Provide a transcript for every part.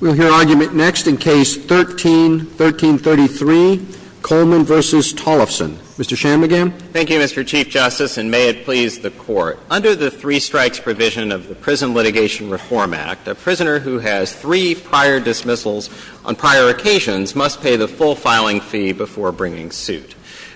We'll hear argument next in Case 13-1333, Coleman v. Tollefson. Mr. Shanmugam. Thank you, Mr. Chief Justice, and may it please the Court. Under the three-strikes provision of the Prison Litigation Reform Act, a prisoner who has three prior dismissals on prior occasions must pay the full filing fee before bringing suit.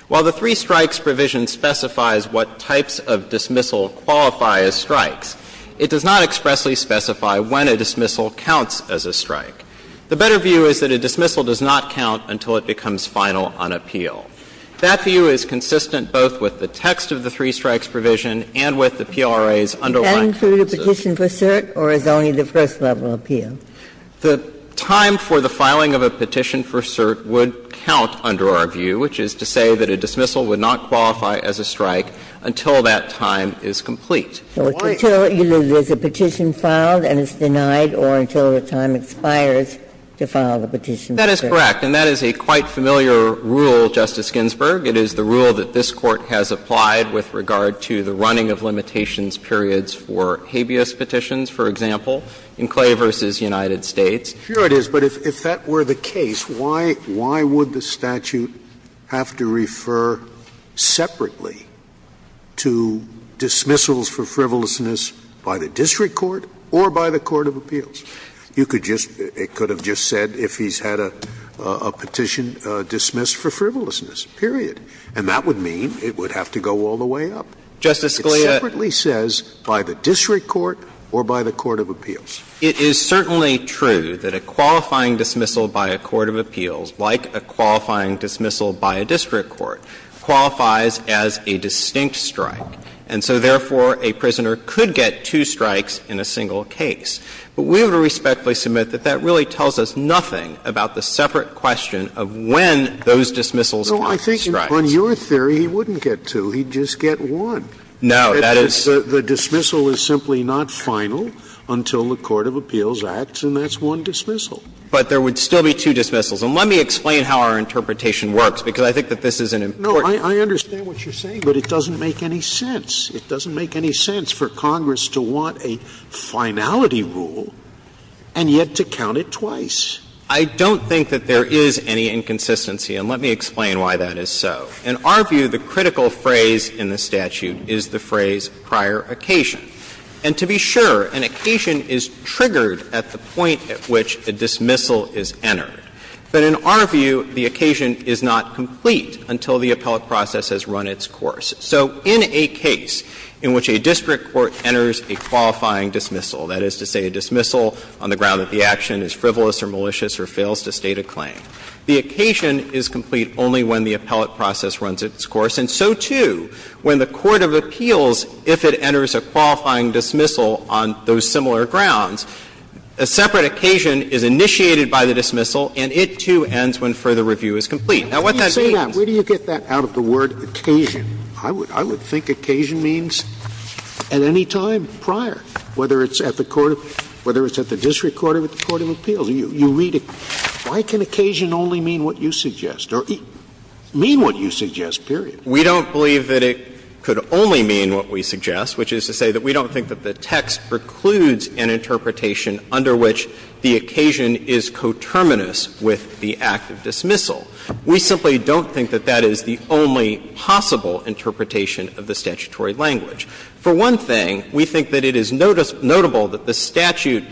While the three-strikes provision specifies what types of dismissal qualify as strikes, it does not expressly specify when a dismissal counts as a strike. The better view is that a dismissal does not count until it becomes final on appeal. That view is consistent both with the text of the three-strikes provision and with the PRA's underlying consensus. And through the petition for cert, or is only the first level appeal? The time for the filing of a petition for cert would count under our view, which is to say that a dismissal would not qualify as a strike until that time is complete. Why is that? Until there's a petition filed and it's denied, or until the time expires to file the petition for cert. That is correct. And that is a quite familiar rule, Justice Ginsburg. It is the rule that this Court has applied with regard to the running of limitations periods for habeas petitions, for example, Enclave v. United States. Here it is, but if that were the case, why would the statute have to refer separately to dismissals for frivolousness by the district court or by the court of appeals? You could just — it could have just said if he's had a petition dismissed for frivolousness, period. And that would mean it would have to go all the way up. Justice Scalia — It separately says by the district court or by the court of appeals. It is certainly true that a qualifying dismissal by a court of appeals, like a qualifying dismissal by a district court, qualifies as a distinct strike. And so, therefore, a prisoner could get two strikes in a single case. But we would respectfully submit that that really tells us nothing about the separate question of when those dismissals could be strikes. Scalia No, I think on your theory he wouldn't get two. He'd just get one. No, that is — Scalia The dismissal is simply not final until the court of appeals acts, and that's one dismissal. But there would still be two dismissals. And let me explain how our interpretation works, because I think that this is an important point. Scalia No, I understand what you're saying, but it doesn't make any sense. It doesn't make any sense for Congress to want a finality rule and yet to count it twice. I don't think that there is any inconsistency, and let me explain why that is so. In our view, the critical phrase in the statute is the phrase »Prior occasion.« And to be sure, an occasion is triggered at the point at which a dismissal is entered. But in our view, the occasion is not complete until the appellate process has run its course. So in a case in which a district court enters a qualifying dismissal, that is to say a dismissal on the ground that the action is frivolous or malicious or fails to state a claim, the occasion is complete only when the appellate process runs its course. And so, too, when the court of appeals, if it enters a qualifying dismissal on those And it, too, ends when further review is complete. Now, what that means Where do you get that out of the word occasion? I would think occasion means at any time prior, whether it's at the court of – whether it's at the district court or at the court of appeals. You read it. Why can occasion only mean what you suggest or mean what you suggest, period? We don't believe that it could only mean what we suggest, which is to say that we don't think that the text precludes an interpretation under which the occasion is coterminous with the act of dismissal. We simply don't think that that is the only possible interpretation of the statutory language. For one thing, we think that it is notable that the statute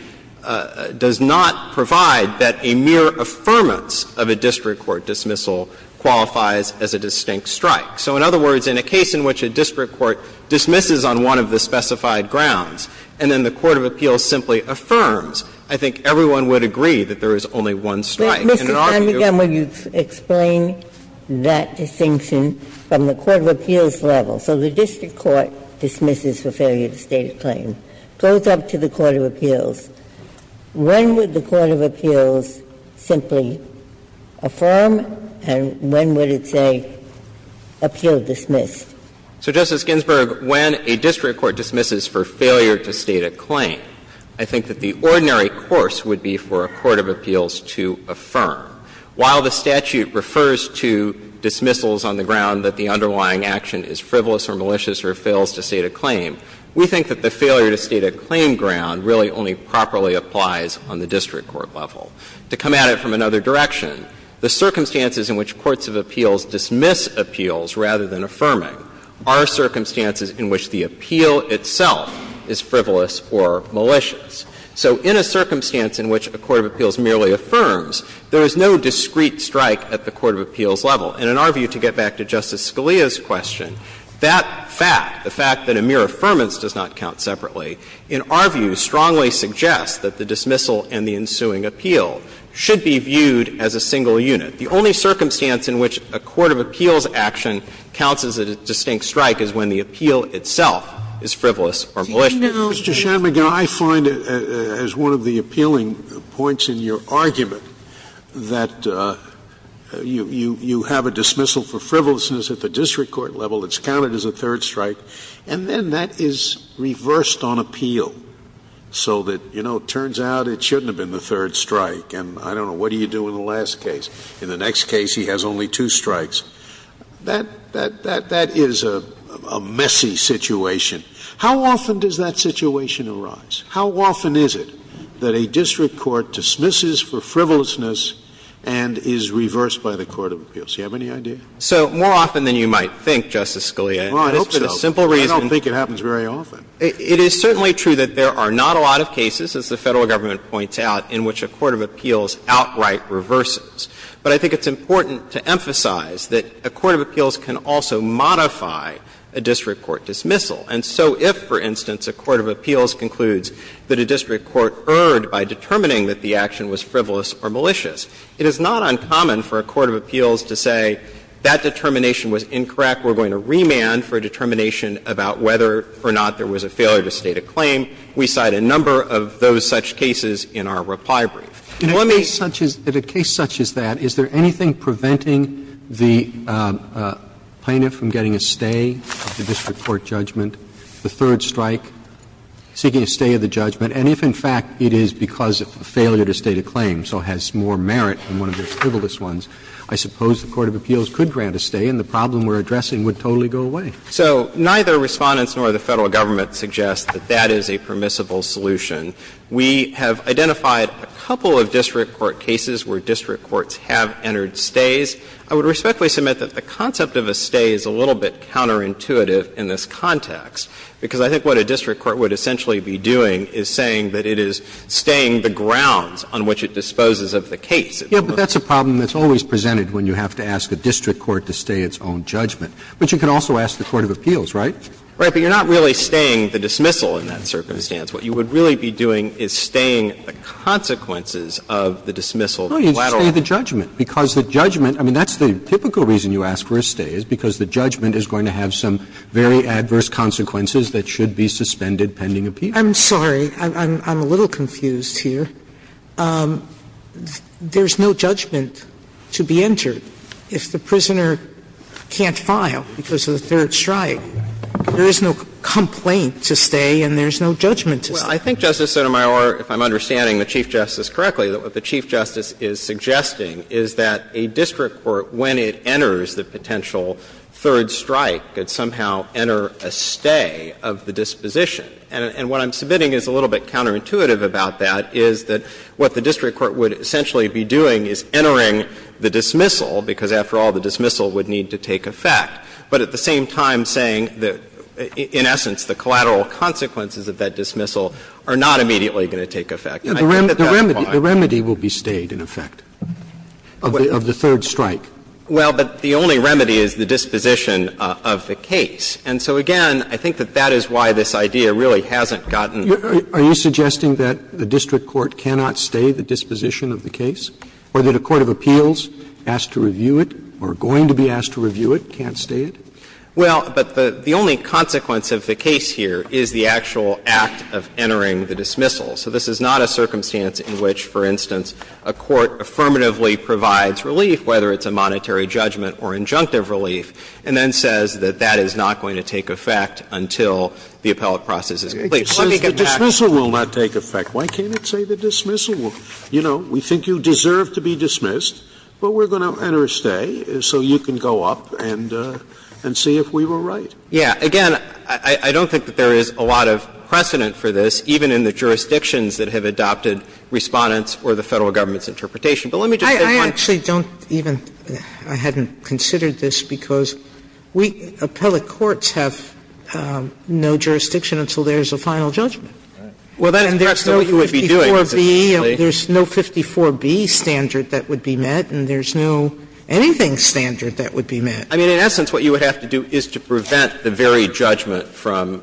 does not provide that a mere affirmance of a district court dismissal qualifies as a distinct strike. So in other words, in a case in which a district court dismisses on one of the specified grounds, and then the court of appeals simply affirms, I think everyone would agree that there is only one strike. And in our view – Ginsburg. But, Mr. Feinberg, I want you to explain that distinction from the court of appeals level. So the district court dismisses for failure to state a claim, goes up to the court of appeals. When would the court of appeals simply affirm, and when would it say, affirm that appeal dismissed? So, Justice Ginsburg, when a district court dismisses for failure to state a claim, I think that the ordinary course would be for a court of appeals to affirm. While the statute refers to dismissals on the ground that the underlying action is frivolous or malicious or fails to state a claim, we think that the failure to state a claim ground really only properly applies on the district court level. To come at it from another direction, the circumstances in which courts of appeals dismiss appeals rather than affirming are circumstances in which the appeal itself is frivolous or malicious. So in a circumstance in which a court of appeals merely affirms, there is no discrete strike at the court of appeals level. And in our view, to get back to Justice Scalia's question, that fact, the fact that a mere affirmance does not count separately, in our view strongly suggests that the dismissal and the ensuing appeal should be viewed as a single unit. The only circumstance in which a court of appeals action counts as a distinct strike is when the appeal itself is frivolous or malicious. Scalia, you know, Mr. Shanmugam, I find it as one of the appealing points in your argument that you have a dismissal for frivolousness at the district court level, it's counted as a third strike, and then that is reversed on appeal so that, you know, it turns out it shouldn't have been the third strike. And I don't know, what do you do in the last case? In the next case, he has only two strikes. That is a messy situation. How often does that situation arise? How often is it that a district court dismisses for frivolousness and is reversed by the court of appeals? Do you have any idea? Shanmugam So more often than you might think, Justice Scalia. Shanmugam It's for the simple reason that you might think. Scalia I don't think it happens very often. Shanmugam It is certainly true that there are not a lot of cases, as the Federal Government points out, in which a court of appeals outright reverses. But I think it's important to emphasize that a court of appeals can also modify a district court dismissal. And so if, for instance, a court of appeals concludes that a district court erred by determining that the action was frivolous or malicious, it is not uncommon for a court of appeals to say that determination was incorrect, we're going to remand We cite a number of those such cases in our reply brief. Roberts In a case such as that, is there anything preventing the plaintiff from getting a stay of the district court judgment, the third strike, seeking a stay of the judgment? And if, in fact, it is because of a failure to state a claim, so has more merit than one of those frivolous ones, I suppose the court of appeals could grant a stay and the problem we're addressing would totally go away. So neither Respondents nor the Federal Government suggest that that is a permissible solution. We have identified a couple of district court cases where district courts have entered stays. I would respectfully submit that the concept of a stay is a little bit counterintuitive in this context, because I think what a district court would essentially be doing is saying that it is staying the grounds on which it disposes of the case. Roberts Yeah, but that's a problem that's always presented when you have to ask a district court to stay its own judgment. But you can also ask the court of appeals, right? Shanmugam Right, but you're not really staying the dismissal in that circumstance. What you would really be doing is staying the consequences of the dismissal. Roberts No, you'd stay the judgment, because the judgment – I mean, that's the typical reason you ask for a stay, is because the judgment is going to have some very adverse consequences that should be suspended pending appeal. Sotomayor I'm sorry. I'm a little confused here. There's no judgment to be entered. If the prisoner can't file because of the third strike, there is no complaint to stay and there's no judgment to stay. Shanmugam Well, I think, Justice Sotomayor, if I'm understanding the Chief Justice correctly, that what the Chief Justice is suggesting is that a district court, when it enters the potential third strike, could somehow enter a stay of the disposition. And what I'm submitting is a little bit counterintuitive about that, is that what the district court would essentially be doing is entering the dismissal, because after all, the dismissal would need to take effect, but at the same time saying that, in essence, the collateral consequences of that dismissal are not immediately going to take effect. Roberts The remedy will be stayed, in effect, of the third strike. Shanmugam Well, but the only remedy is the disposition of the case. And so, again, I think that that is why this idea really hasn't gotten to the Court. Roberts Are you suggesting that the district court cannot stay the disposition of the case, or that a court of appeals asked to review it or going to be asked to review it can't stay it? Shanmugam Well, but the only consequence of the case here is the actual act of entering the dismissal. So this is not a circumstance in which, for instance, a court affirmatively provides relief, whether it's a monetary judgment or injunctive relief, and then says that that is not going to take effect until the appellate process is complete. Sotomayor The dismissal will not take effect. Why can't it say the dismissal will? You know, we think you deserve to be dismissed, but we're going to enter a stay so you can go up and see if we were right. Shanmugam Yeah. Again, I don't think that there is a lot of precedent for this, even in the jurisdictions that have adopted Respondent's or the Federal government's interpretation. But let me just say one thing. Sotomayor I actually don't even – I hadn't considered this because we, appellate courts, have no jurisdiction until there is a final judgment. Shanmugam Well, that's not what you would be doing. Sotomayor There's no 54B standard that would be met, and there's no anything standard that would be met. Shanmugam I mean, in essence, what you would have to do is to prevent the very judgment from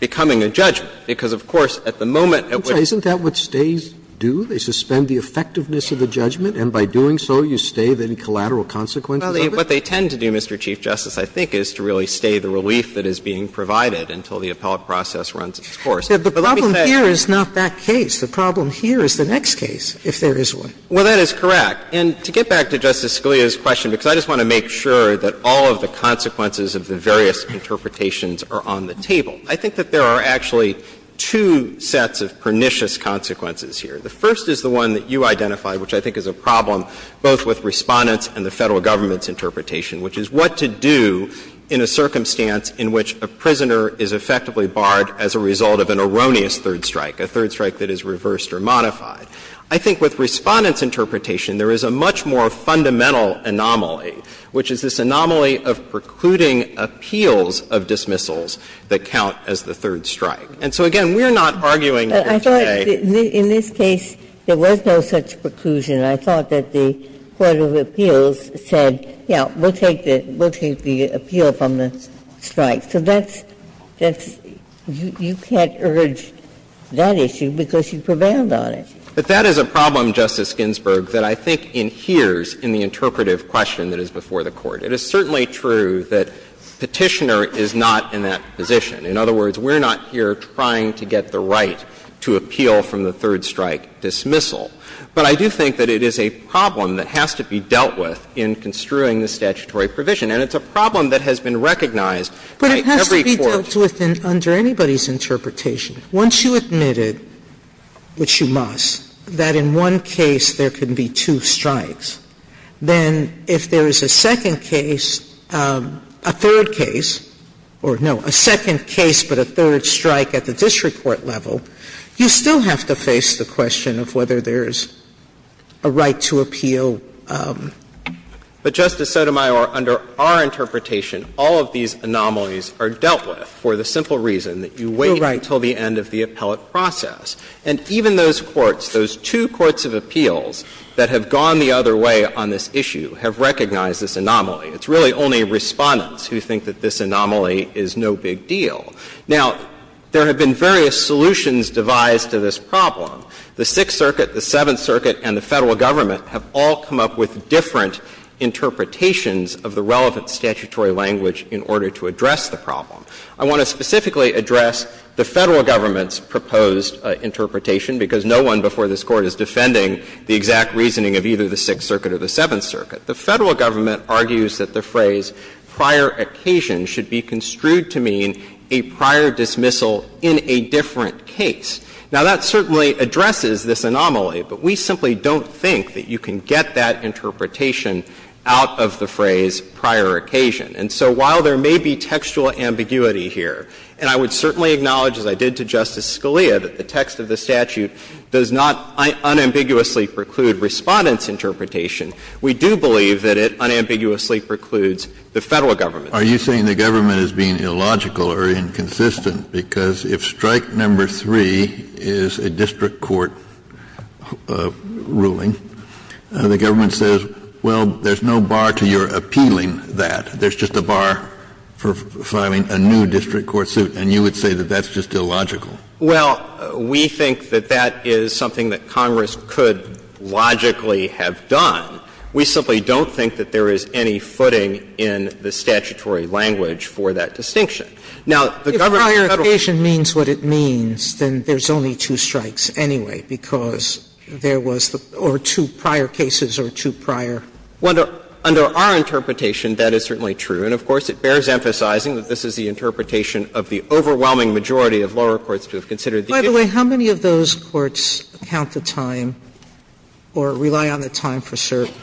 becoming a judgment, because, of course, at the moment, it would be the same. Roberts Isn't that what stays do? They suspend the effectiveness of the judgment, and by doing so, you stay, then collateral consequences of it? Shanmugam What they tend to do, Mr. Chief Justice, I think, is to really stay the relief that is being provided until the appellate process runs its course. But let me say – Sotomayor The problem here is not that case. The problem here is the next case, if there is one. Shanmugam Well, that is correct. And to get back to Justice Scalia's question, because I just want to make sure that all of the consequences of the various interpretations are on the table, I think that there are actually two sets of pernicious consequences here. The first is the one that you identified, which I think is a problem both with Respondent's interpretation and the Federal Government's interpretation, which is what to do in a circumstance in which a prisoner is effectively barred as a result of an erroneous third strike, a third strike that is reversed or modified. I think with Respondent's interpretation, there is a much more fundamental anomaly, which is this anomaly of precluding appeals of dismissals that count as the third strike. And so, again, we are not arguing here today that there is no such preclusion. I thought that the Court of Appeals said, yes, we will take the appeal from the strike. So that's you can't urge that issue because you prevailed on it. Shanmugam But that is a problem, Justice Ginsburg, that I think inheres in the interpretive question that is before the Court. It is certainly true that Petitioner is not in that position. In other words, we are not here trying to get the right to appeal from the third strike dismissal. But I do think that it is a problem that has to be dealt with in construing the statutory provision. And it's a problem that has been recognized by every court. Sotomayor But it has to be dealt with under anybody's interpretation. Once you admit it, which you must, that in one case there can be two strikes, then if there is a second case, a third case, or no, a second case but a third strike at the district court level, you still have to face the question of whether there is a right to appeal. Shanmugam But, Justice Sotomayor, under our interpretation, all of these anomalies are dealt with for the simple reason that you wait until the end of the appellate process. And even those courts, those two courts of appeals that have gone the other way on this issue have recognized this anomaly. It's really only Respondents who think that this anomaly is no big deal. Now, there have been various solutions devised to this problem. The Sixth Circuit, the Seventh Circuit, and the Federal Government have all come up with different interpretations of the relevant statutory language in order to address the problem. I want to specifically address the Federal Government's proposed interpretation, because no one before this Court is defending the exact reasoning of either the Sixth Circuit or the Seventh Circuit. The Federal Government argues that the phrase prior occasion should be construed to mean a prior dismissal in a different case. Now, that certainly addresses this anomaly, but we simply don't think that you can get that interpretation out of the phrase prior occasion. And so while there may be textual ambiguity here, and I would certainly acknowledge, as I did to Justice Scalia, that the text of the statute does not unambiguously preclude Respondents' interpretation, we do believe that it unambiguously precludes the Federal Government's. Kennedy, are you saying the government is being illogical or inconsistent? Because if strike number three is a district court ruling, the government says, well, there's no bar to your appealing that. There's just a bar for filing a new district court suit, and you would say that that's just illogical. Well, we think that that is something that Congress could logically have done. We simply don't think that there is any footing in the statutory language for that distinction. Now, the government's Federal Government's Sotomayor, if prior occasion means what it means, then there's only two strikes anyway, because there was the or two prior cases or two prior. Well, under our interpretation, that is certainly true, and of course, it bears emphasizing that this is the interpretation of the overwhelming majority of lower courts to have considered the issue. Sotomayor, by the way, how many of those courts count the time or rely on the time for certain?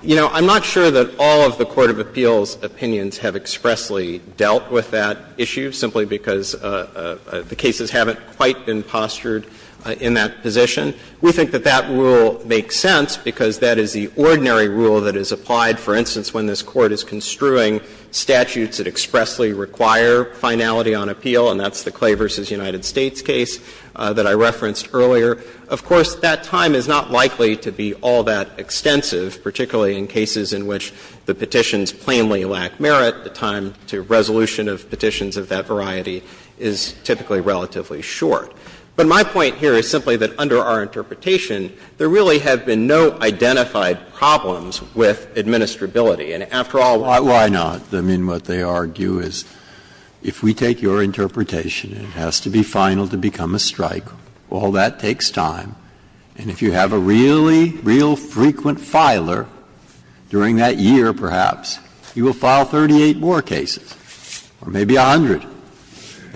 You know, I'm not sure that all of the court of appeals' opinions have expressly dealt with that issue, simply because the cases haven't quite been postured in that position. We think that that rule makes sense because that is the ordinary rule that is applied, for instance, when this Court is construing statutes that expressly require finality on appeal, and that's the Clay v. United States case that I referenced earlier. Of course, that time is not likely to be all that extensive, particularly in cases in which the petitions plainly lack merit. The time to resolution of petitions of that variety is typically relatively short. But my point here is simply that under our interpretation, there really have been no identified problems with administrability. And after all, why not? I mean, what they argue is if we take your interpretation, it has to be final to become a strike. All that takes time, and if you have a really, real frequent filer during that year, perhaps, you will file 38 more cases, or maybe 100, and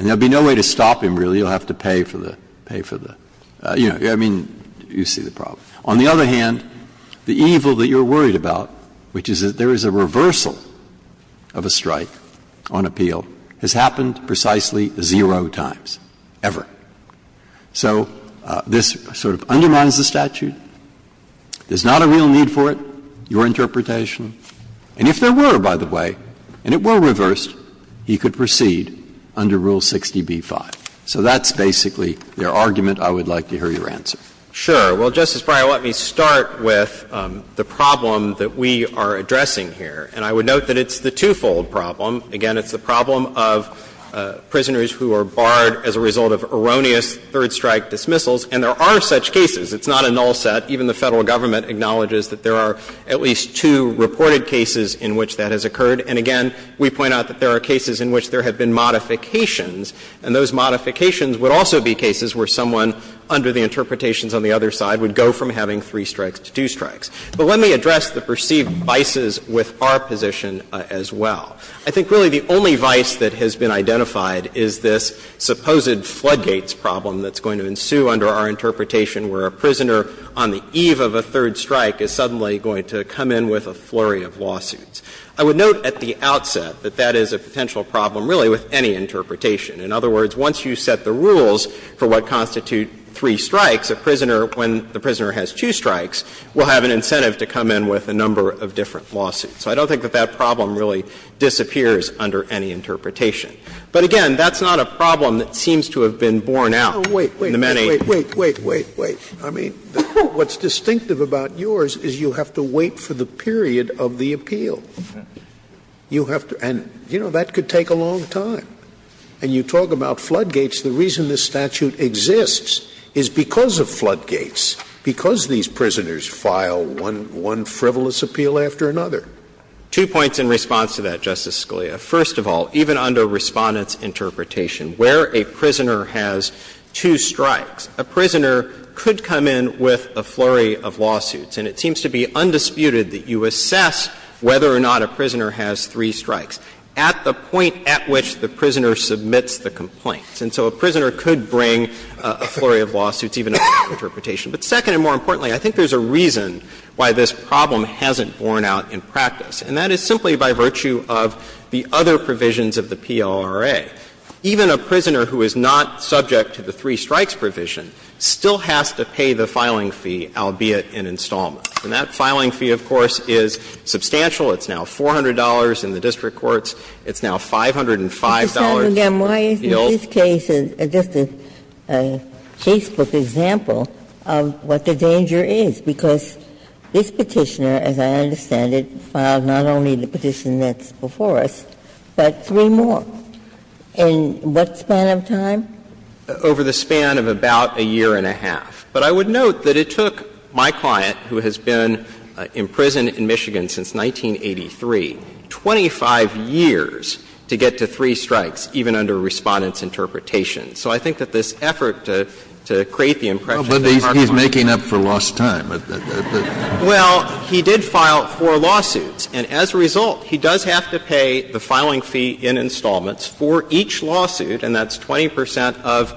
there will be no way to stop him, really. You'll have to pay for the — pay for the — you know, I mean, you see the problem. On the other hand, the evil that you're worried about, which is that there is a reversal of a strike on appeal, has happened precisely zero times, ever. So this sort of undermines the statute. There's not a real need for it, your interpretation. And if there were, by the way, and it were reversed, he could proceed under Rule 60b-5. So that's basically their argument. I would like to hear your answer. Shanmugam. Sure. Well, Justice Breyer, let me start with the problem that we are addressing here. And I would note that it's the twofold problem. Again, it's the problem of prisoners who are barred as a result of erroneous third-strike dismissals. And there are such cases. It's not a null set. Even the Federal Government acknowledges that there are at least two reported cases in which that has occurred. And again, we point out that there are cases in which there have been modifications, and those modifications would also be cases where someone, under the interpretations on the other side, would go from having three strikes to two strikes. But let me address the perceived vices with our position as well. I think really the only vice that has been identified is this supposed floodgates problem that's going to ensue under our interpretation where a prisoner on the eve of a third strike is suddenly going to come in with a flurry of lawsuits. I would note at the outset that that is a potential problem, really, with any interpretation. In other words, once you set the rules for what constitute three strikes, a prisoner, when the prisoner has two strikes, will have an incentive to come in with a number of different lawsuits. So I don't think that that problem really disappears under any interpretation. But again, that's not a problem that seems to have been borne out in the many. Scalia. Wait, wait, wait, wait, wait, wait. I mean, what's distinctive about yours is you have to wait for the period of the appeal. You have to — and, you know, that could take a long time. And you talk about floodgates. The reason this statute exists is because of floodgates, because these prisoners file one frivolous appeal after another. Two points in response to that, Justice Scalia. First of all, even under Respondent's interpretation, where a prisoner has two strikes, a prisoner could come in with a flurry of lawsuits. And it seems to be undisputed that you assess whether or not a prisoner has three strikes at the point at which the prisoner submits the complaint. And so a prisoner could bring a flurry of lawsuits, even under that interpretation. But second and more importantly, I think there's a reason why this problem hasn't been borne out in practice, and that is simply by virtue of the other provisions of the PLRA. Even a prisoner who is not subject to the three strikes provision still has to pay the filing fee, albeit an installment. And that filing fee, of course, is substantial. It's now $400 in the district courts. It's now $505 in appeals. Ginsburg. Why isn't this case just a casebook example of what the danger is? Because this Petitioner, as I understand it, filed not only the petition that's before us, but three more. In what span of time? Over the span of about a year and a half. But I would note that it took my client, who has been imprisoned in Michigan since 1983, 25 years to get to three strikes, even under Respondent's interpretation. Kennedy. Well, but he's making up for lost time. Well, he did file four lawsuits. And as a result, he does have to pay the filing fee in installments for each lawsuit, and that's 20 percent of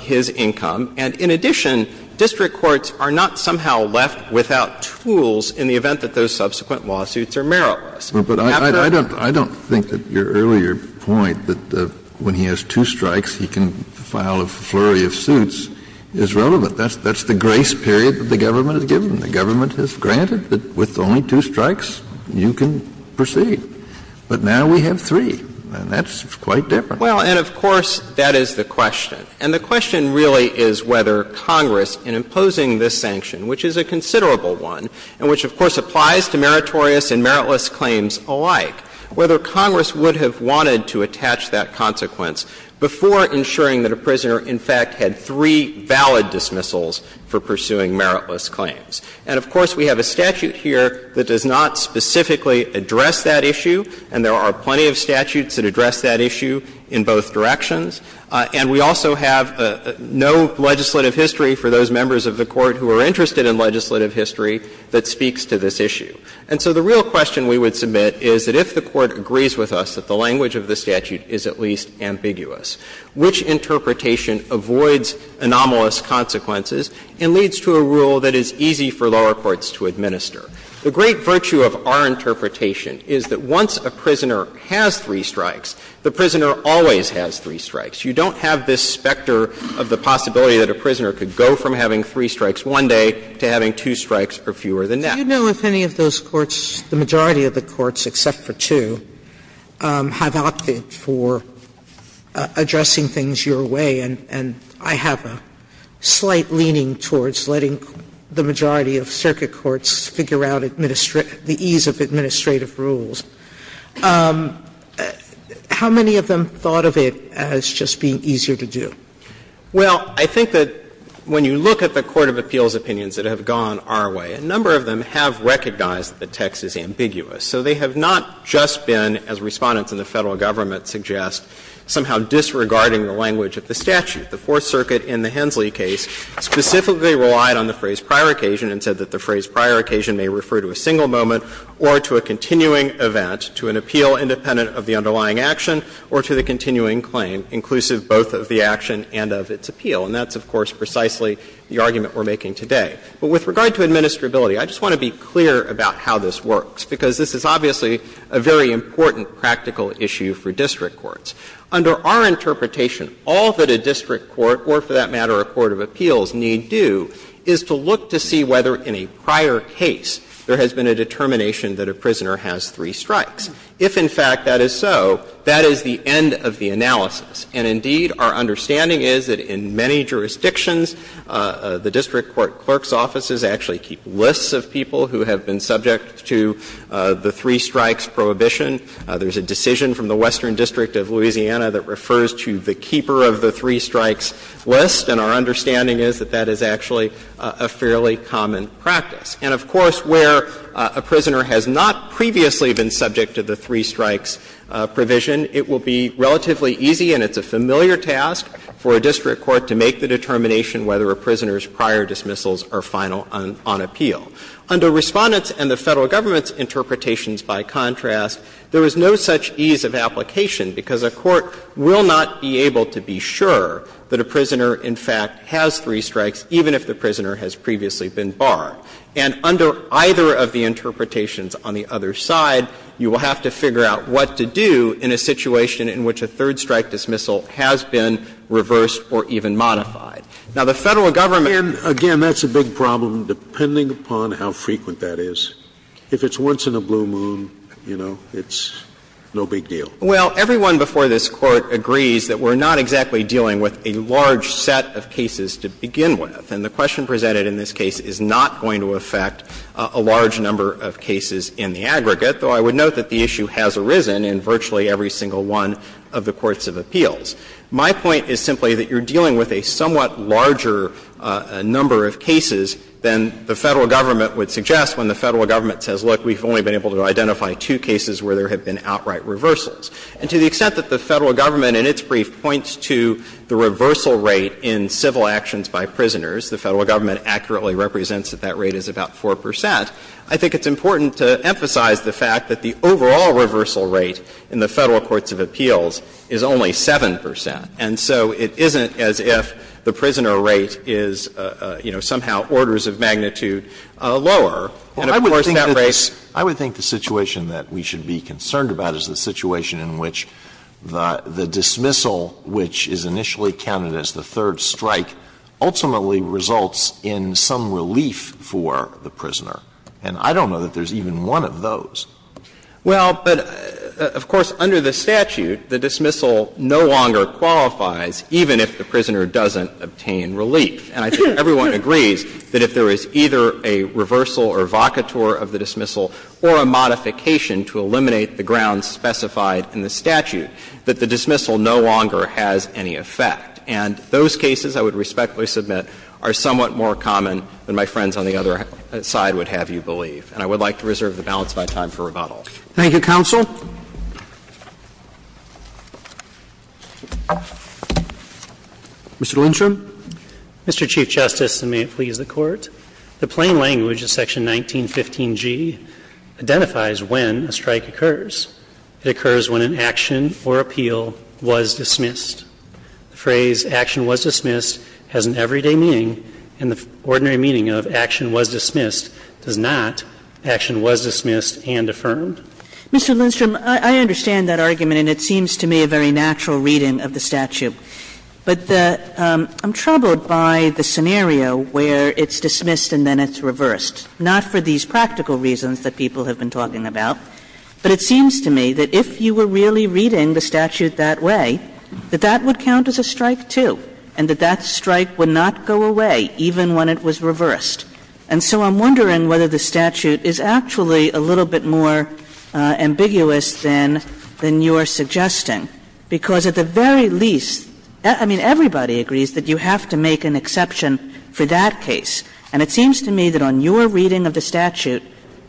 his income. And in addition, district courts are not somehow left without tools in the event that those subsequent lawsuits are meritless. But I don't think that your earlier point that when he has two strikes, he can file a flurry of suits is relevant. That's the grace period that the government has given. The government has granted that with only two strikes, you can proceed. But now we have three, and that's quite different. Well, and of course, that is the question. And the question really is whether Congress, in imposing this sanction, which is a considerable one, and which of course applies to meritorious and meritless claims alike, whether in fact had three valid dismissals for pursuing meritless claims. And of course, we have a statute here that does not specifically address that issue, and there are plenty of statutes that address that issue in both directions. And we also have no legislative history for those members of the Court who are interested in legislative history that speaks to this issue. And so the real question we would submit is that if the Court agrees with us that the language of the statute is at least ambiguous, which interpretation avoids anomalous consequences and leads to a rule that is easy for lower courts to administer? The great virtue of our interpretation is that once a prisoner has three strikes, the prisoner always has three strikes. You don't have this specter of the possibility that a prisoner could go from having three strikes one day to having two strikes or fewer the next. Sotomayor, do you know if any of those courts, the majority of the courts except for two, have opted for addressing things your way, and I have a slight leaning towards letting the majority of circuit courts figure out the ease of administrative rules? How many of them thought of it as just being easier to do? Well, I think that when you look at the court of appeals opinions that have gone on our way, a number of them have recognized that the text is ambiguous. So they have not just been, as Respondents in the Federal Government suggest, somehow disregarding the language of the statute. The Fourth Circuit in the Hensley case specifically relied on the phrase prior occasion and said that the phrase prior occasion may refer to a single moment or to a continuing event, to an appeal independent of the underlying action or to the continuing claim inclusive both of the action and of its appeal. And that's, of course, precisely the argument we're making today. But with regard to administrability, I just want to be clear about how this works, because this is obviously a very important practical issue for district courts. Under our interpretation, all that a district court or, for that matter, a court of appeals need do is to look to see whether in a prior case there has been a determination that a prisoner has three strikes. If, in fact, that is so, that is the end of the analysis. And, indeed, our understanding is that in many jurisdictions, the district court clerk's offices actually keep lists of people who have been subject to the three strikes prohibition. There's a decision from the Western District of Louisiana that refers to the keeper of the three strikes list, and our understanding is that that is actually a fairly common practice. And, of course, where a prisoner has not previously been subject to the three strikes provision, it will be relatively easy and it's a familiar task for a district court to make the determination whether a prisoner's prior dismissals are final on appeal. Under Respondent's and the Federal Government's interpretations, by contrast, there is no such ease of application, because a court will not be able to be sure that a prisoner, in fact, has three strikes, even if the prisoner has previously been barred. And under either of the interpretations on the other side, you will have to figure out what to do in a situation in which a third strike dismissal has been reversed or even modified. Now, the Federal Government Scalia, again, that's a big problem, depending upon how frequent that is. If it's once in a blue moon, you know, it's no big deal. Well, everyone before this Court agrees that we're not exactly dealing with a large set of cases to begin with, and the question presented in this case is not going to affect a large number of cases in the aggregate, though I would note that the issue has arisen in virtually every single one of the courts of appeals. My point is simply that you're dealing with a somewhat larger number of cases than the Federal Government would suggest when the Federal Government says, look, we've only been able to identify two cases where there have been outright reversals. And to the extent that the Federal Government, in its brief, points to the reversal rate in civil actions by prisoners, the Federal Government accurately represents that that rate is about 4 percent, I think it's important to emphasize the fact that the overall reversal rate in the Federal courts of appeals is only 7 percent. And so it isn't as if the prisoner rate is, you know, somehow orders of magnitude lower. And, of course, that rate is the same as the prisoner rate in civil actions. Alitoso, I would think the situation that we should be concerned about is the situation in which the dismissal, which is initially counted as the third strike, ultimately results in some relief for the prisoner. And I don't know that there's even one of those. Well, but, of course, under the statute, the dismissal no longer qualifies, even if the prisoner doesn't obtain relief. And I think everyone agrees that if there is either a reversal or vacatur of the dismissal or a modification to eliminate the grounds specified in the statute, that the dismissal no longer has any effect. And those cases, I would respectfully submit, are somewhat more common than my friends on the other side would have you believe. And I would like to reserve the balance of my time for rebuttal. Thank you, counsel. Mr. Lindstrom. Mr. Chief Justice, and may it please the Court, the plain language of Section 1915g identifies when a strike occurs. It occurs when an action or appeal was dismissed. The phrase, action was dismissed, has an everyday meaning, and the ordinary meaning of action was dismissed does not. Action was dismissed and affirmed. Mr. Lindstrom, I understand that argument, and it seems to me a very natural reading of the statute. But I'm troubled by the scenario where it's dismissed and then it's reversed, not for these practical reasons that people have been talking about. But it seems to me that if you were really reading the statute that way, that that would count as a strike, too, and that that strike would not go away even when it was reversed. And so I'm wondering whether the statute is actually a little bit more ambiguous than you are suggesting, because at the very least, I mean, everybody agrees that you have to make an exception for that case. And it seems to me that on your reading of the statute,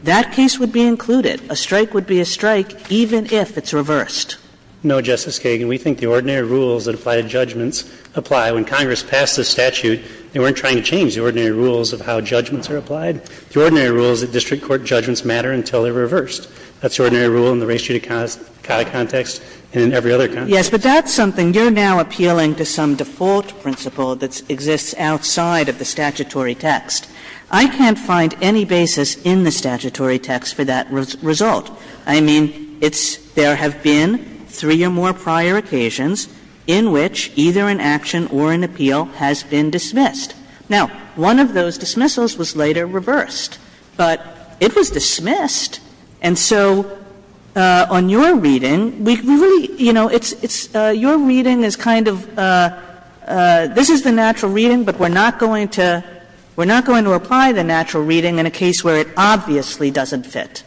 that case would be included. A strike would be a strike even if it's reversed. No, Justice Kagan. We think the ordinary rules that apply to judgments apply. When Congress passed the statute, they weren't trying to change the ordinary rules of how judgments are applied. The ordinary rules that district court judgments matter until they're reversed. That's the ordinary rule in the race-judicata context and in every other context. Yes, but that's something. You're now appealing to some default principle that exists outside of the statutory text. I can't find any basis in the statutory text for that result. I mean, it's – there have been three or more prior occasions in which either an action or an appeal has been dismissed. Now, one of those dismissals was later reversed, but it was dismissed. And so on your reading, we really, you know, it's – your reading is kind of, this is the natural reading, but we're not going to – we're not going to apply the natural reading in a case where it obviously doesn't fit.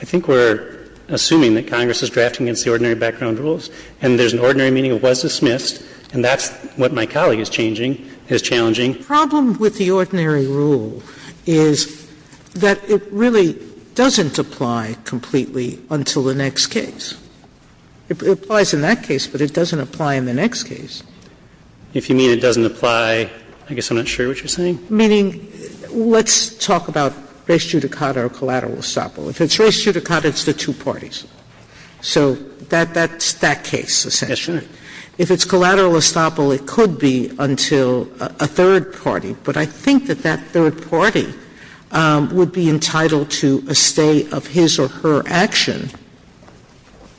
I think we're assuming that Congress is drafting against the ordinary background rules, and there's an ordinary meaning, it was dismissed, and that's what my colleague is changing, is challenging. Sotomayor's problem with the ordinary rule is that it really doesn't apply completely until the next case. It applies in that case, but it doesn't apply in the next case. If you mean it doesn't apply, I guess I'm not sure what you're saying. Meaning, let's talk about race-judicata or collateral estoppel. If it's race-judicata, it's the two parties. So that's that case, essentially. Yes, Your Honor. If it's collateral estoppel, it could be until a third party. But I think that that third party would be entitled to a stay of his or her action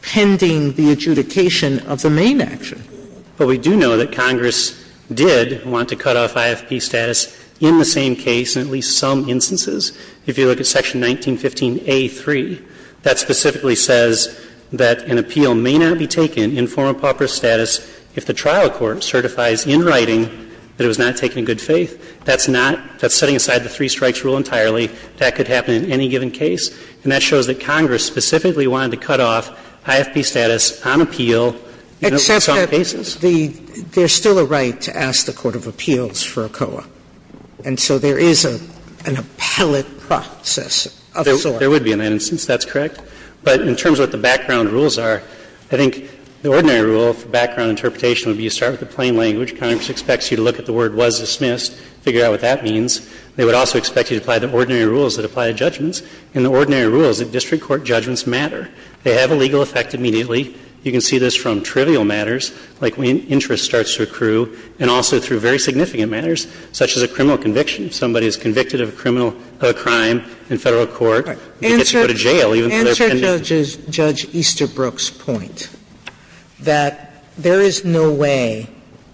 pending the adjudication of the main action. But we do know that Congress did want to cut off IFP status in the same case in at least some instances. If you look at Section 1915a.3, that specifically says that an appeal may not be taken in form of pauper status if the trial court certifies in writing that it was not taken in good faith. That's not – that's setting aside the three-strikes rule entirely. That could happen in any given case. And that shows that Congress specifically wanted to cut off IFP status on appeal in at least some cases. Except that the – there's still a right to ask the court of appeals for a COA. And so there is an appellate process of sort. There would be in that instance. That's correct. But in terms of what the background rules are, I think the ordinary rule of background interpretation would be you start with the plain language. Congress expects you to look at the word was dismissed, figure out what that means. They would also expect you to apply the ordinary rules that apply to judgments. And the ordinary rules of district court judgments matter. They have a legal effect immediately. You can see this from trivial matters, like when interest starts to accrue, and also through very significant matters. And so what the Court is saying is that if there is a case such as a criminal conviction, somebody is convicted of a criminal – of a crime in Federal court, they get to go to jail, even though they're pending. Answer Judge Easterbrook's point, that there is no way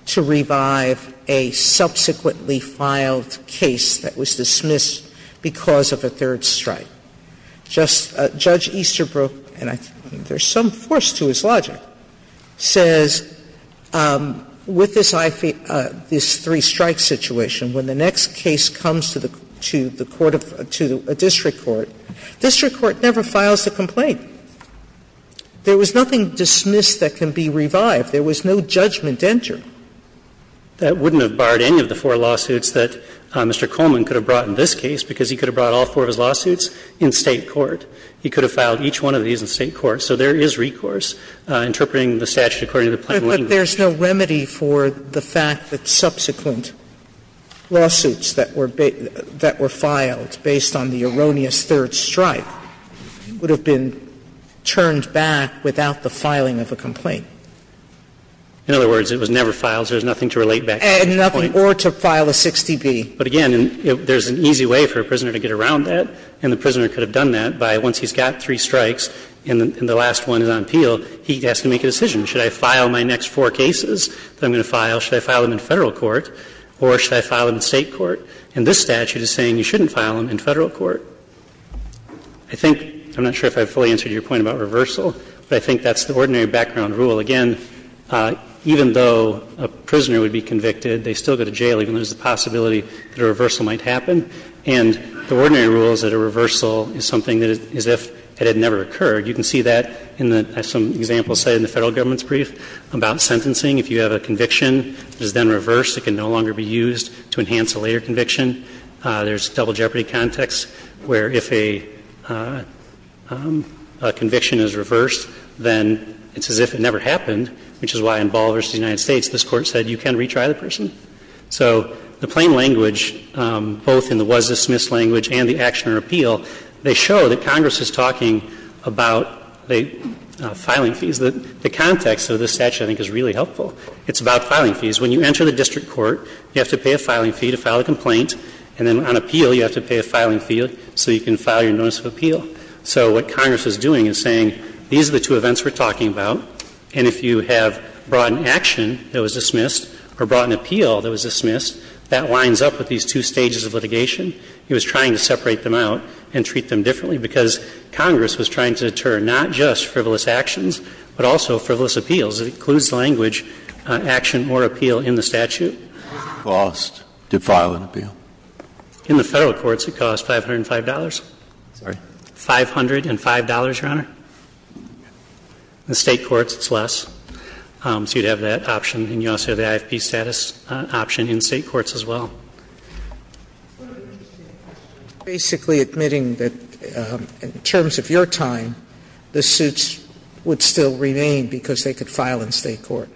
to revive a subsequently filed case that was dismissed because of a third strike. Just Judge Easterbrook, and I think there's some force to his logic, says with this – this three-strike situation, when the next case comes to the court of – to a district court, district court never files a complaint. There was nothing dismissed that can be revived. There was no judgment to enter. That wouldn't have barred any of the four lawsuits that Mr. Coleman could have brought in this case, because he could have brought all four of his lawsuits in State court. He could have filed each one of these in State court. So there is recourse, interpreting the statute according to the plain language. Sotomayor But there's no remedy for the fact that subsequent lawsuits that were – that were filed based on the erroneous third strike would have been turned back without the filing of a complaint. In other words, it was never filed, so there's nothing to relate back to that point. Sotomayor And nothing – or to file a 60B. But, again, there's an easy way for a prisoner to get around that, and the prisoner could have done that by, once he's got three strikes and the last one is on appeal, he has to make a decision. Should I file my next four cases that I'm going to file, should I file them in Federal court, or should I file them in State court? And this statute is saying you shouldn't file them in Federal court. I think – I'm not sure if I fully answered your point about reversal, but I think that's the ordinary background rule. Again, even though a prisoner would be convicted, they still go to jail, even though there's a possibility that a reversal might happen. And the ordinary rule is that a reversal is something that is as if it had never occurred. You can see that in the – as some examples say in the Federal government's brief about sentencing. If you have a conviction that is then reversed, it can no longer be used to enhance a later conviction. There's double jeopardy context where if a conviction is reversed, then it's as if it never happened, which is why in Ball v. United States, this Court said you can retry the person. So the plain language, both in the was-dismissed language and the action or appeal, they show that Congress is talking about the filing fees. The context of this statute I think is really helpful. It's about filing fees. When you enter the district court, you have to pay a filing fee to file a complaint, and then on appeal you have to pay a filing fee so you can file your notice of appeal. So what Congress is doing is saying these are the two events we're talking about, and if you have brought an action that was dismissed or brought an appeal that was dismissed, that lines up with these two stages of litigation. It was trying to separate them out and treat them differently because Congress was trying to deter not just frivolous actions, but also frivolous appeals. It includes the language action or appeal in the statute. In the Federal courts, it cost $505. $505, Your Honor. In the State courts, it's less. So you'd have that option, and you also have the IFP status option in State courts as well. Sotomayor, basically admitting that, in terms of your time, the suits would still remain because they could file in State court.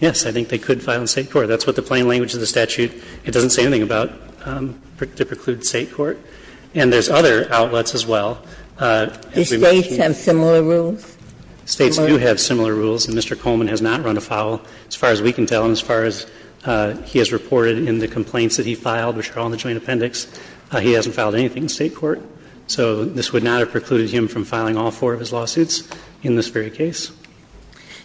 Yes. I think they could file in State court. That's what the plain language of the statute, it doesn't say anything about the preclude State court. And there's other outlets as well. Do States have similar rules? States do have similar rules, and Mr. Coleman has not run afoul. As far as we can tell and as far as he has reported in the complaints that he filed, which are all in the joint appendix, he hasn't filed anything in State court. So this would not have precluded him from filing all four of his lawsuits in this very case.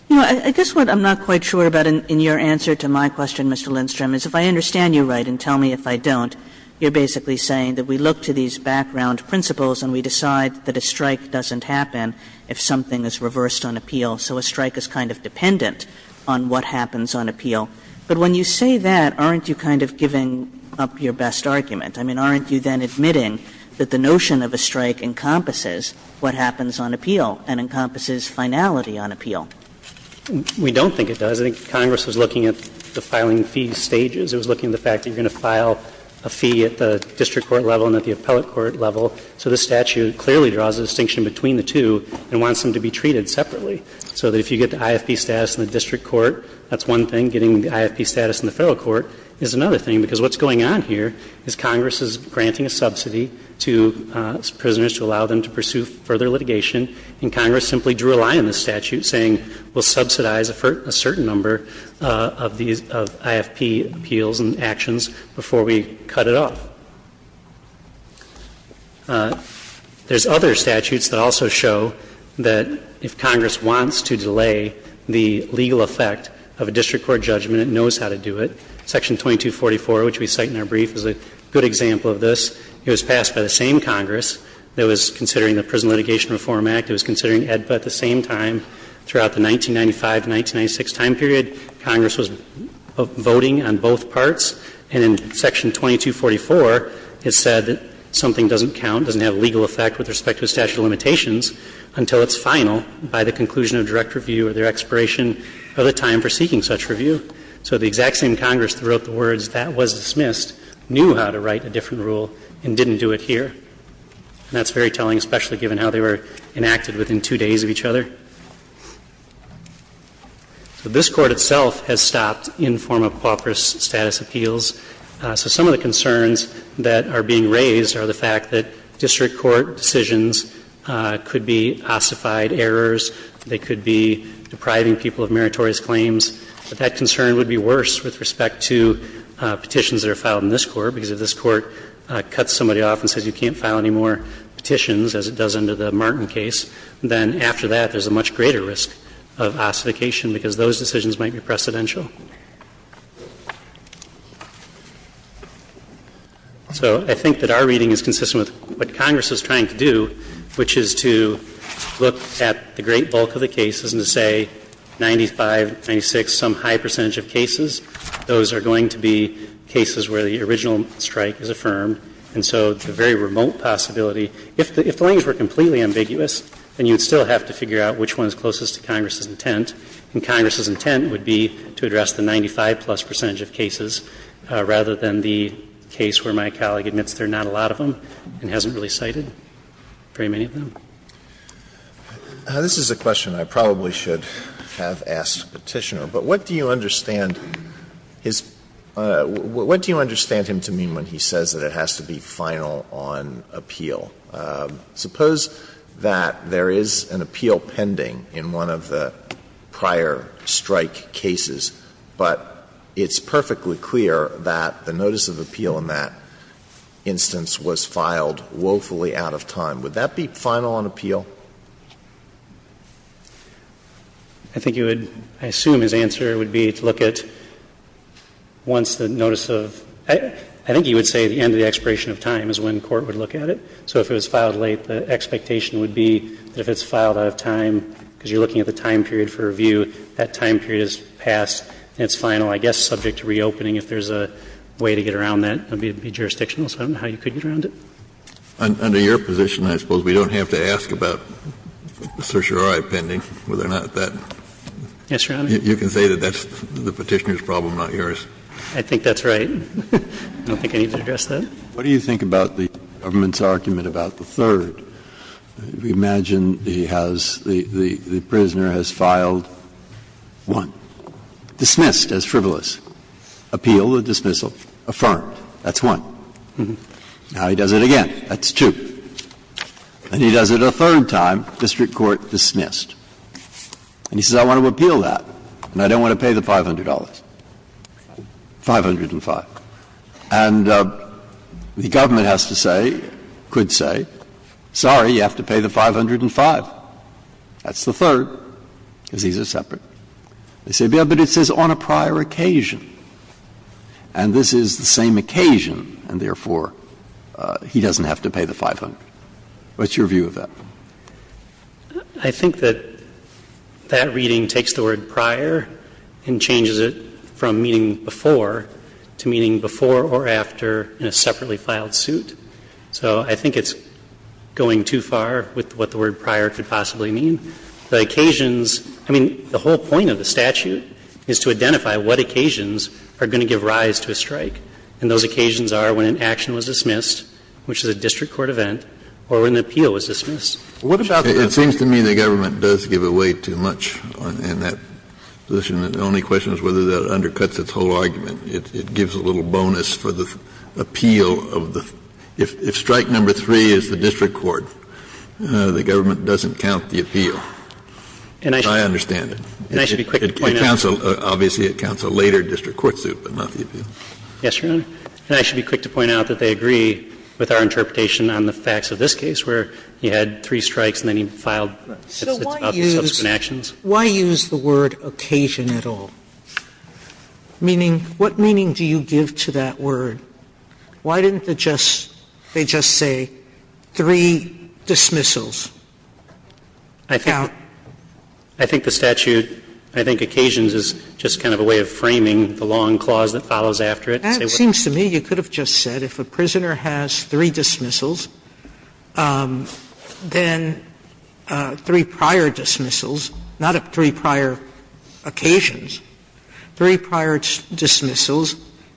You know, I guess what I'm not quite sure about in your answer to my question, Mr. Lindstrom, is if I understand you right and tell me if I don't, you're basically saying that we look to these background principles and we decide that a strike doesn't happen if something is reversed on appeal, so a strike is kind of dependent on what happens on appeal. But when you say that, aren't you kind of giving up your best argument? I mean, aren't you then admitting that the notion of a strike encompasses what happens on appeal and encompasses finality on appeal? We don't think it does. I think Congress was looking at the filing fee stages. It was looking at the fact that you're going to file a fee at the district court level and at the appellate court level, so this statute clearly draws a distinction between the two and wants them to be treated separately. So that if you get the IFP status in the district court, that's one thing. Getting the IFP status in the federal court is another thing, because what's going on here is Congress is granting a subsidy to prisoners to allow them to pursue further litigation, and Congress simply drew a line in the statute saying we'll get the IFP appeals and actions before we cut it off. There's other statutes that also show that if Congress wants to delay the legal effect of a district court judgment, it knows how to do it. Section 2244, which we cite in our brief, is a good example of this. It was passed by the same Congress that was considering the Prison Litigation Reform Act. It was considering AEDPA at the same time throughout the 1995-1996 time period. Congress was voting on both parts. And in Section 2244, it said that something doesn't count, doesn't have legal effect with respect to statute of limitations until it's final by the conclusion of direct review or their expiration of the time for seeking such review. So the exact same Congress that wrote the words that was dismissed knew how to write a different rule and didn't do it here. And that's very telling, especially given how they were enacted within two days of each other. So this Court itself has stopped informal pauperous status appeals. So some of the concerns that are being raised are the fact that district court decisions could be ossified errors. They could be depriving people of meritorious claims. But that concern would be worse with respect to petitions that are filed in this Court, because if this Court cuts somebody off and says you can't file any more petitions, then after that, there's a much greater risk of ossification because those decisions might be precedential. So I think that our reading is consistent with what Congress is trying to do, which is to look at the great bulk of the cases and to say 95, 96, some high percentage of cases, those are going to be cases where the original strike is affirmed. And so the very remote possibility, if the lines were completely ambiguous, then you would still have to figure out which one is closest to Congress's intent, and Congress's intent would be to address the 95-plus percentage of cases rather than the case where my colleague admits there are not a lot of them and hasn't really cited very many of them. Alito, this is a question I probably should have asked Petitioner. But what do you understand his – what do you understand him to mean when he says that it has to be final on appeal? Suppose that there is an appeal pending in one of the prior strike cases, but it's perfectly clear that the notice of appeal in that instance was filed woefully out of time. Would that be final on appeal? I think you would – I assume his answer would be to look at once the notice of – I think he would say the end of the expiration of time is when court would look at it. So if it was filed late, the expectation would be that if it's filed out of time because you're looking at the time period for review, that time period is passed and it's final, I guess subject to reopening if there's a way to get around that. It would be jurisdictional, so I don't know how you could get around it. Under your position, I suppose, we don't have to ask about certiorari pending, whether or not that. Yes, Your Honor. You can say that that's the Petitioner's problem, not yours. I think that's right. I don't think I need to address that. What do you think about the government's argument about the third? Imagine he has – the prisoner has filed one, dismissed as frivolous. Appeal, the dismissal, affirmed. That's one. Now he does it again. That's two. And he does it a third time, district court dismissed. And he says, I want to appeal that, and I don't want to pay the $500. $505. And the government has to say, could say, sorry, you have to pay the $505. That's the third, because these are separate. They say, but it says on a prior occasion. And this is the same occasion, and therefore, he doesn't have to pay the $500. What's your view of that? I think that that reading takes the word prior and changes it from meaning before to meaning before or after in a separately filed suit. So I think it's going too far with what the word prior could possibly mean. The occasions – I mean, the whole point of the statute is to identify what occasions are going to give rise to a strike. And those occasions are when an action was dismissed, which is a district court strike, and then there's an event or an appeal is dismissed. What about the other? It seems to me the government does give away too much in that position. The only question is whether that undercuts its whole argument. It gives a little bonus for the appeal of the – if strike number 3 is the district court, the government doesn't count the appeal. I understand it. And I should be quick to point out. Yes, Your Honor. And I should be quick to point out that they agree with our interpretation on the facts of this case where he had three strikes and then he filed subsequent actions. So why use the word occasion at all? Meaning, what meaning do you give to that word? Why didn't they just say three dismissals? I think the statute – I think occasions is just kind of a way of framing the long clause that follows after it. That seems to me you could have just said if a prisoner has three dismissals, then three prior dismissals, not three prior occasions, three prior dismissals,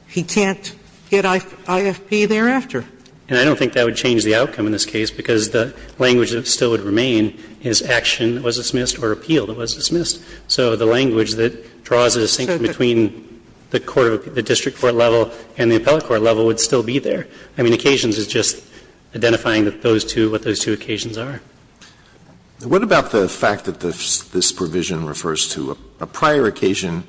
he can't get IFP thereafter. And I don't think that would change the outcome in this case because the language that still would remain is action that was dismissed or appeal that was dismissed. So the language that draws a distinction between the court of – the district court level and the appellate court level would still be there. I mean, occasions is just identifying those two, what those two occasions are. What about the fact that this provision refers to a prior occasion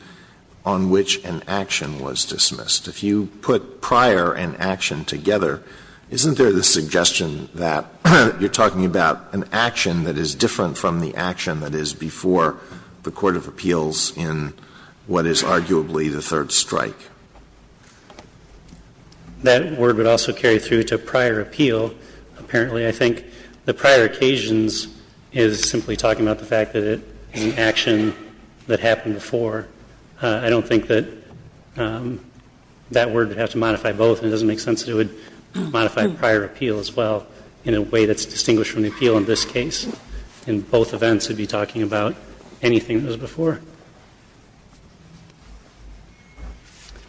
on which an action was dismissed? If you put prior and action together, isn't there the suggestion that you're talking about an action that is different from the action that is before the court of appeals in what is arguably the third strike? That word would also carry through to prior appeal, apparently. I think the prior occasions is simply talking about the fact that an action that happened before. I don't think that that word would have to modify both, and it doesn't make sense that it would modify prior appeal as well in a way that's distinguished from the appeal in this case. In both events, it would be talking about anything that was before.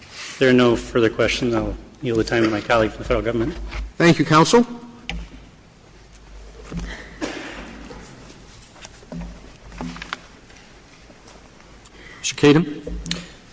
If there are no further questions, I'll yield the time to my colleague from the Federal Government. Roberts. Thank you, counsel. Mr. Kedem.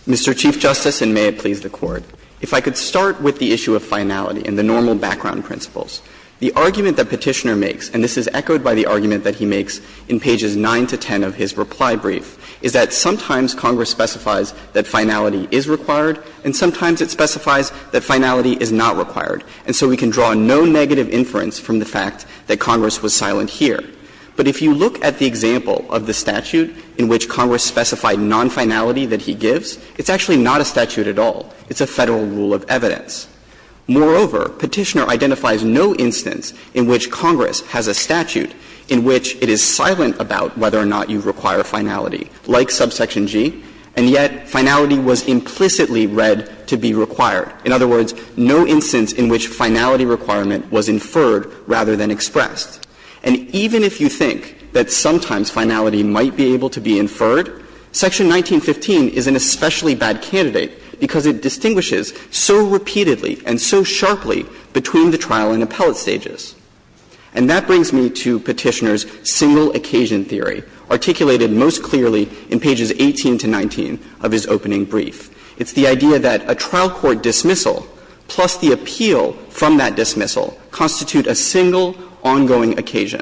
Mr. Chief Justice, and may it please the Court. If I could start with the issue of finality and the normal background principles. The argument that Petitioner makes, and this is echoed by the argument that he makes in pages 9 to 10 of his reply brief, is that sometimes Congress specifies that finality is required, and sometimes it specifies that finality is not required. And so we can draw no negative inference from the fact that Congress was silent here. But if you look at the example of the statute in which Congress specified nonfinality that he gives, it's actually not a statute at all. It's a Federal rule of evidence. Moreover, Petitioner identifies no instance in which Congress has a statute in which it is silent about whether or not you require finality, like subsection G, and yet finality was implicitly read to be required. In other words, no instance in which finality requirement was inferred rather than expressed. And even if you think that sometimes finality might be able to be inferred, section 1915 is an especially bad candidate because it distinguishes so repeatedly and so sharply between the trial and appellate stages. And that brings me to Petitioner's single occasion theory, articulated most clearly in pages 18 to 19 of his opening brief. It's the idea that a trial court dismissal plus the appeal from that dismissal constitute a single ongoing occasion.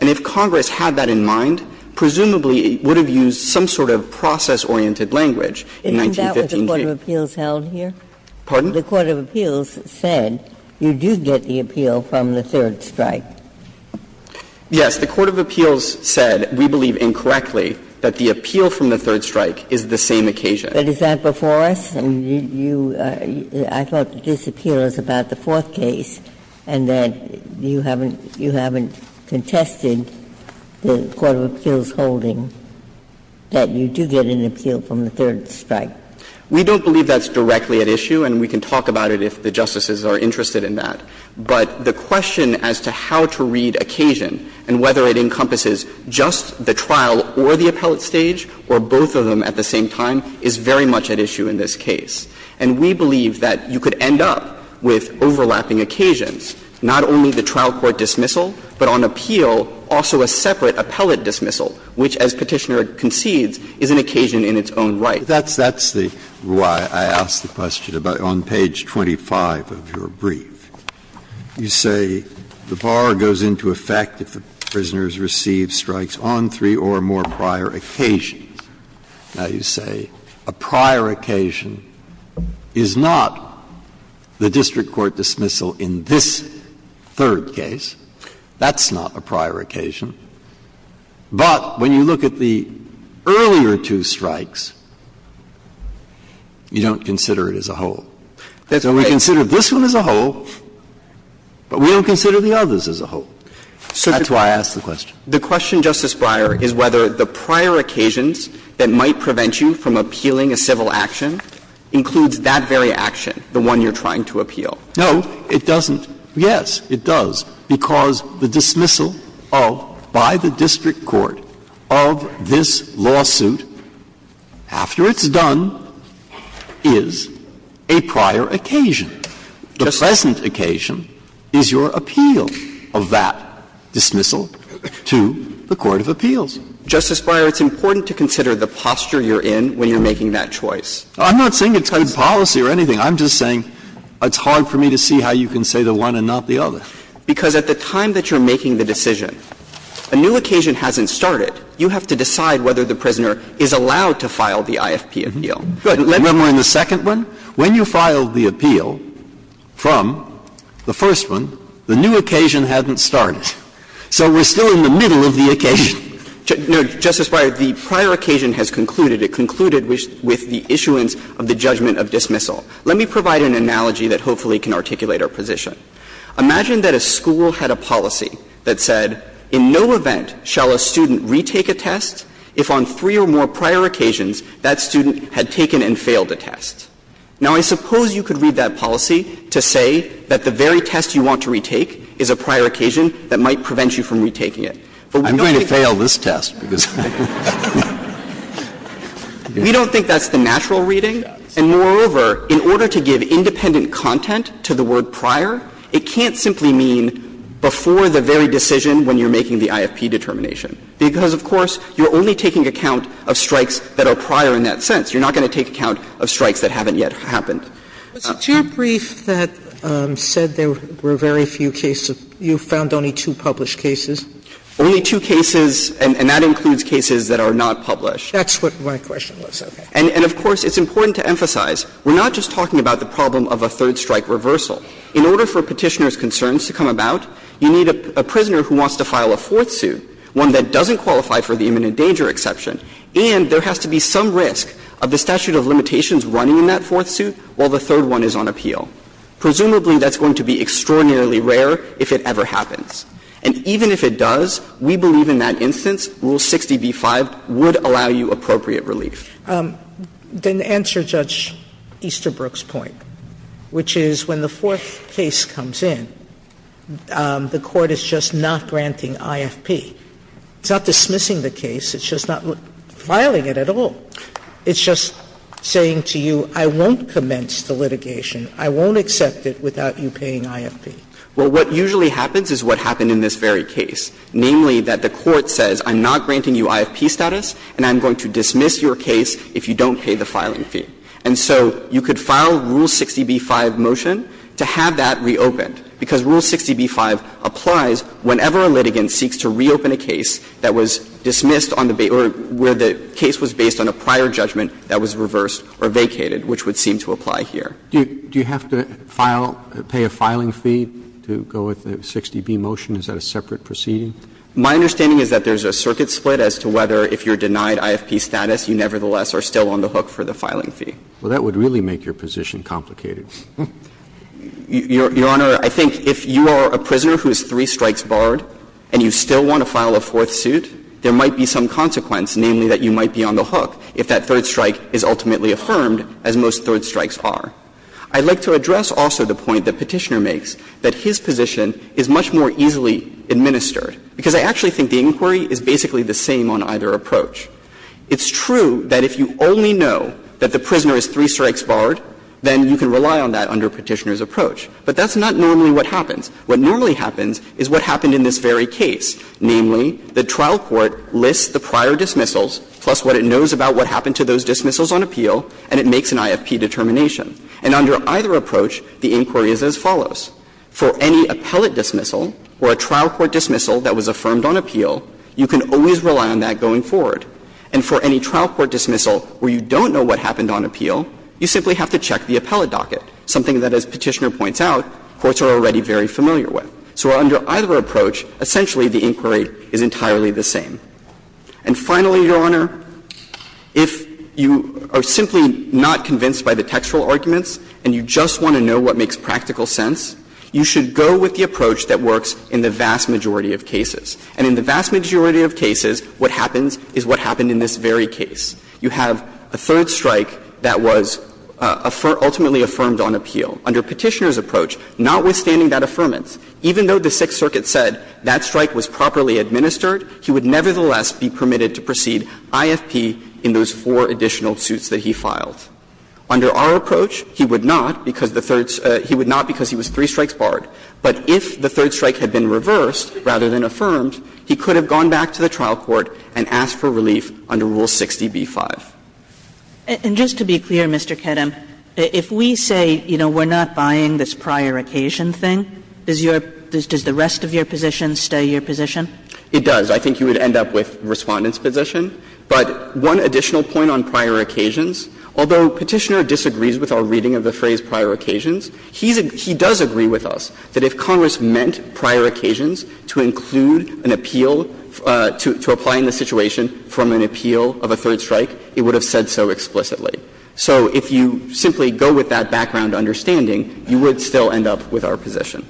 And if Congress had that in mind, presumably it would have used some sort of process-oriented language in 1915. Ginsburg. Isn't that what the court of appeals held here? Pardon? The court of appeals said you do get the appeal from the third strike. Yes. The court of appeals said, we believe incorrectly that the appeal from the third strike is the same occasion. But is that before us? I mean, you are – I thought the disappeal is about the fourth case, and that you haven't contested the court of appeals holding that you do get an appeal from the third strike. We don't believe that's directly at issue, and we can talk about it if the justices are interested in that. But the question as to how to read occasion and whether it encompasses just the trial or the appellate stage or both of them at the same time is very much at issue in this case. And we believe that you could end up with overlapping occasions, not only the trial court dismissal, but on appeal, also a separate appellate dismissal, which, as Petitioner concedes, is an occasion in its own right. Breyer, that's the – why I asked the question about it on page 25 of your brief. You say the bar goes into effect if the prisoner has received strikes on three or more prior occasions. Now, you say a prior occasion is not the district court dismissal in this third case. That's not a prior occasion. But when you look at the earlier two strikes, you don't consider it as a whole. So we consider this one as a whole, but we don't consider the others as a whole. That's why I asked the question. The question, Justice Breyer, is whether the prior occasions that might prevent you from appealing a civil action includes that very action, the one you're trying to appeal. No, it doesn't. Yes, it does, because the dismissal of, by the district court, of this lawsuit after it's done is a prior occasion. The present occasion is your appeal of that dismissal to the court of appeals. Justice Breyer, it's important to consider the posture you're in when you're making that choice. I'm not saying it's good policy or anything. I'm just saying it's hard for me to see how you can say the one and not the other. Because at the time that you're making the decision, a new occasion hasn't started. You have to decide whether the prisoner is allowed to file the IFP appeal. Remember in the second one? When you filed the appeal from the first one, the new occasion hadn't started. So we're still in the middle of the occasion. No, Justice Breyer, the prior occasion has concluded. It concluded with the issuance of the judgment of dismissal. Let me provide an analogy that hopefully can articulate our position. Imagine that a school had a policy that said in no event shall a student retake a test if on three or more prior occasions that student had taken and failed a test. Now, I suppose you could read that policy to say that the very test you want to retake is a prior occasion that might prevent you from retaking it. But we don't think that's the natural reading. And moreover, in order to give independent content to the word prior, it can't simply mean before the very decision when you're making the IFP determination. Because, of course, you're only taking account of strikes that are prior in that sense. You're not going to take account of strikes that haven't yet happened. Sotomayor, was it your brief that said there were very few cases? You found only two published cases? Only two cases, and that includes cases that are not published. That's what my question was. And, of course, it's important to emphasize, we're not just talking about the problem of a third strike reversal. In order for Petitioner's concerns to come about, you need a prisoner who wants to file a fourth suit, one that doesn't qualify for the imminent danger exception, and there has to be some risk of the statute of limitations running in that fourth suit while the third one is on appeal. Presumably, that's going to be extraordinarily rare if it ever happens. And even if it does, we believe in that instance Rule 60b-5 would allow you appropriate relief. Then to answer Judge Easterbrook's point, which is when the fourth case comes in, the Court is just not granting IFP. It's not dismissing the case. It's just not filing it at all. It's just saying to you, I won't commence the litigation. I won't accept it without you paying IFP. Well, what usually happens is what happened in this very case, namely that the Court says, I'm not granting you IFP status and I'm going to dismiss your case if you don't pay the filing fee. And so you could file Rule 60b-5 motion to have that reopened, because Rule 60b-5 applies whenever a litigant seeks to reopen a case that was dismissed on the basis where the case was based on a prior judgment that was reversed or vacated, which would seem to apply here. Roberts. Do you have to file, pay a filing fee to go with the 60b motion? Is that a separate proceeding? My understanding is that there's a circuit split as to whether, if you're denied IFP status, you nevertheless are still on the hook for the filing fee. Well, that would really make your position complicated. Your Honor, I think if you are a prisoner who is three strikes barred and you still want to file a fourth suit, there might be some consequence, namely that you might be on the hook if that third strike is ultimately affirmed, as most third strikes are. I'd like to address also the point the Petitioner makes, that his position is much more easily administered, because I actually think the inquiry is basically the same on either approach. It's true that if you only know that the prisoner is three strikes barred, then you can rely on that under Petitioner's approach. But that's not normally what happens. What normally happens is what happened in this very case, namely, the trial court lists the prior dismissals, plus what it knows about what happened to those dismissals on appeal, and it makes an IFP determination. And under either approach, the inquiry is as follows. For any appellate dismissal or a trial court dismissal that was affirmed on appeal, you can always rely on that going forward. And for any trial court dismissal where you don't know what happened on appeal, you simply have to check the appellate docket, something that, as Petitioner points out, courts are already very familiar with. So under either approach, essentially the inquiry is entirely the same. And finally, Your Honor, if you are simply not convinced by the textual arguments and you just want to know what makes practical sense, you should go with the approach that works in the vast majority of cases. And in the vast majority of cases, what happens is what happened in this very case. You have a third strike that was ultimately affirmed on appeal. Under Petitioner's approach, notwithstanding that affirmance, even though the Sixth Circuit said that strike was properly administered, he would nevertheless be permitted to proceed IFP in those four additional suits that he filed. Under our approach, he would not because the third he would not because he was three strikes barred. But if the third strike had been reversed rather than affirmed, he could have gone back to the trial court and asked for relief under Rule 60b-5. Kagan. And just to be clear, Mr. Kedem, if we say, you know, we're not buying this prior occasion thing, does your does the rest of your position stay your position? It does. I think you would end up with Respondent's position. But one additional point on prior occasions, although Petitioner disagrees with our reading of the phrase prior occasions, he's a he does agree with us that if Congress meant prior occasions to include an appeal, to apply in this situation from an appeal of a third strike, it would have said so explicitly. So if you simply go with that background understanding, you would still end up with our position.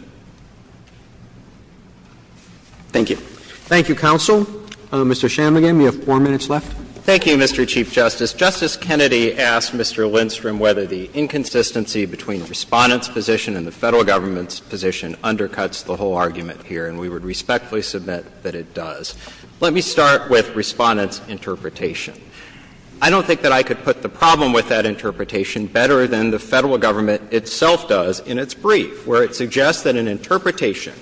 Thank you. Roberts. Roberts. And so, Mr. Shanmugam, you have 4 minutes left. Thank you, Mr. Chief Justice. Justice Kennedy asked Mr. Lindstrom whether the inconsistency between Respondent's position and the Federal government's position undercuts the whole argument here, and we would respectfully submit that it does. Let me start with Respondent's interpretation. I don't think that I could put the problem with that interpretation better than the Federal government itself does in its brief, where it suggests that an interpretation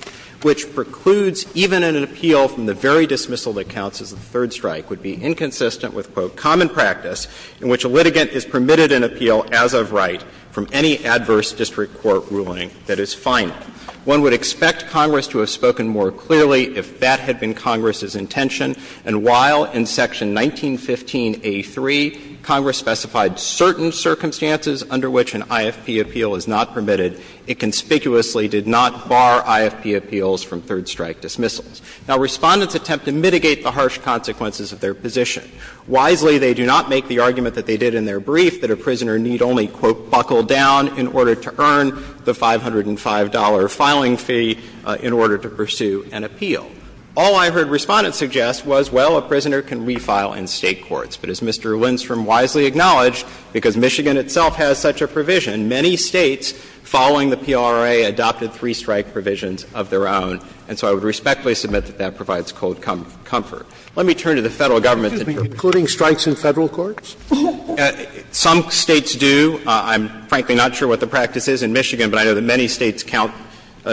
which precludes even an appeal from the very dismissal that counts as a third strike would be inconsistent with, quote, "...common practice in which a litigant is permitted an appeal as of right from any adverse district court ruling that is final. One would expect Congress to have spoken more clearly if that had been Congress's intention, and while in section 1915a3 Congress specified certain circumstances under which an IFP appeal is not permitted, it conspicuously did not bar IFP appeals from third strike dismissals." Now, Respondent's attempt to mitigate the harsh consequences of their position. Wisely, they do not make the argument that they did in their brief, that a prisoner need only, quote, "...buckle down in order to earn the $505 filing fee in order to pursue an appeal." All I heard Respondent suggest was, well, a prisoner can refile in State courts. But as Mr. Lindstrom wisely acknowledged, because Michigan itself has such a provision, many States following the PRA adopted three-strike provisions of their own, and so I would respectfully submit that that provides cold comfort. Let me turn to the Federal government's interpretation. Some States do. I'm, frankly, not sure what the practice is in Michigan, but I know that many States count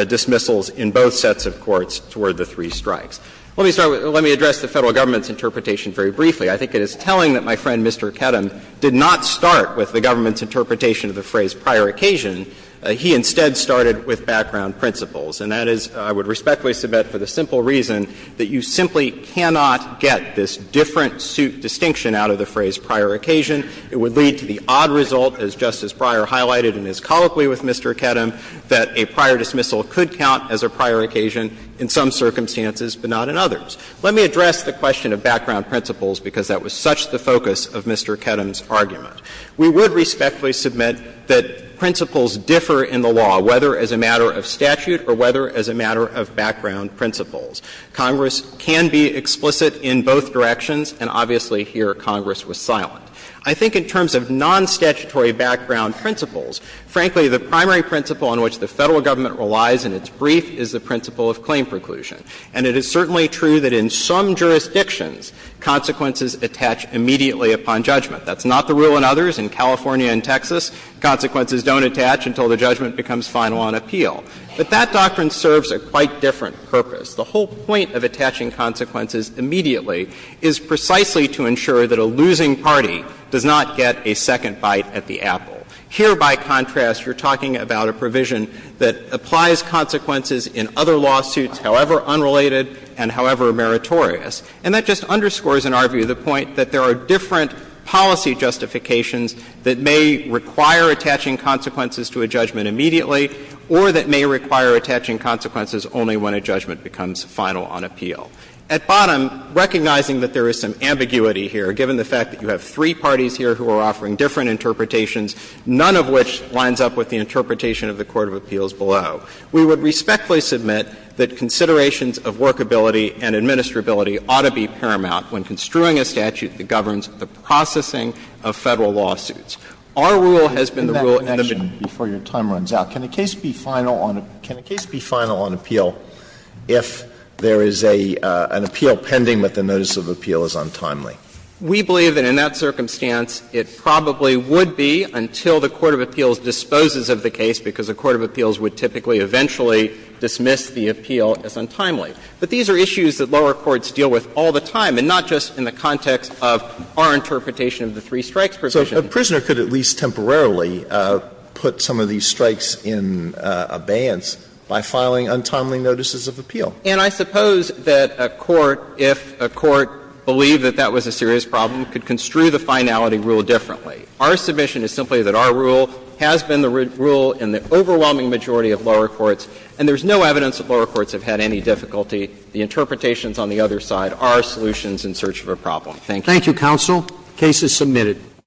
dismissals in both sets of courts toward the three strikes. Let me address the Federal government's interpretation very briefly. I think it is telling that my friend, Mr. Kedem, did not start with the government's phrase prior occasion. He, instead, started with background principles, and that is, I would respectfully submit, for the simple reason that you simply cannot get this different suit distinction out of the phrase prior occasion. It would lead to the odd result, as Justice Breyer highlighted in his colloquy with Mr. Kedem, that a prior dismissal could count as a prior occasion in some circumstances, but not in others. Let me address the question of background principles, because that was such the focus of Mr. Kedem's argument. We would respectfully submit that principles differ in the law, whether as a matter of statute or whether as a matter of background principles. Congress can be explicit in both directions, and obviously here Congress was silent. I think in terms of nonstatutory background principles, frankly, the primary principle on which the Federal government relies in its brief is the principle of claim preclusion. And it is certainly true that in some jurisdictions, consequences attach immediately upon judgment. That's not the rule in others. In California and Texas, consequences don't attach until the judgment becomes final on appeal. But that doctrine serves a quite different purpose. The whole point of attaching consequences immediately is precisely to ensure that a losing party does not get a second bite at the apple. Here, by contrast, you're talking about a provision that applies consequences in other lawsuits, however unrelated and however meritorious. And that just underscores in our view the point that there are different policy justifications that may require attaching consequences to a judgment immediately or that may require attaching consequences only when a judgment becomes final on appeal. At bottom, recognizing that there is some ambiguity here, given the fact that you have three parties here who are offering different interpretations, none of which lines up with the interpretation of the court of appeals below, we would respectfully submit that considerations of workability and administrability ought to be paramount when construing a statute that governs the processing of Federal lawsuits. Our rule has been the rule in the beginning. Roberts. Before your time runs out, can a case be final on appeal if there is an appeal pending but the notice of appeal is untimely? We believe that in that circumstance, it probably would be until the court of appeals the appeal as untimely. But these are issues that lower courts deal with all the time, and not just in the context of our interpretation of the three strikes provision. So a prisoner could at least temporarily put some of these strikes in abeyance by filing untimely notices of appeal. And I suppose that a court, if a court believed that that was a serious problem, could construe the finality rule differently. Our submission is simply that our rule has been the rule in the overwhelming majority of lower courts, and there's no evidence that lower courts have had any difficulty. The interpretations on the other side are solutions in search of a problem. Thank you. Thank you, counsel. The case is submitted.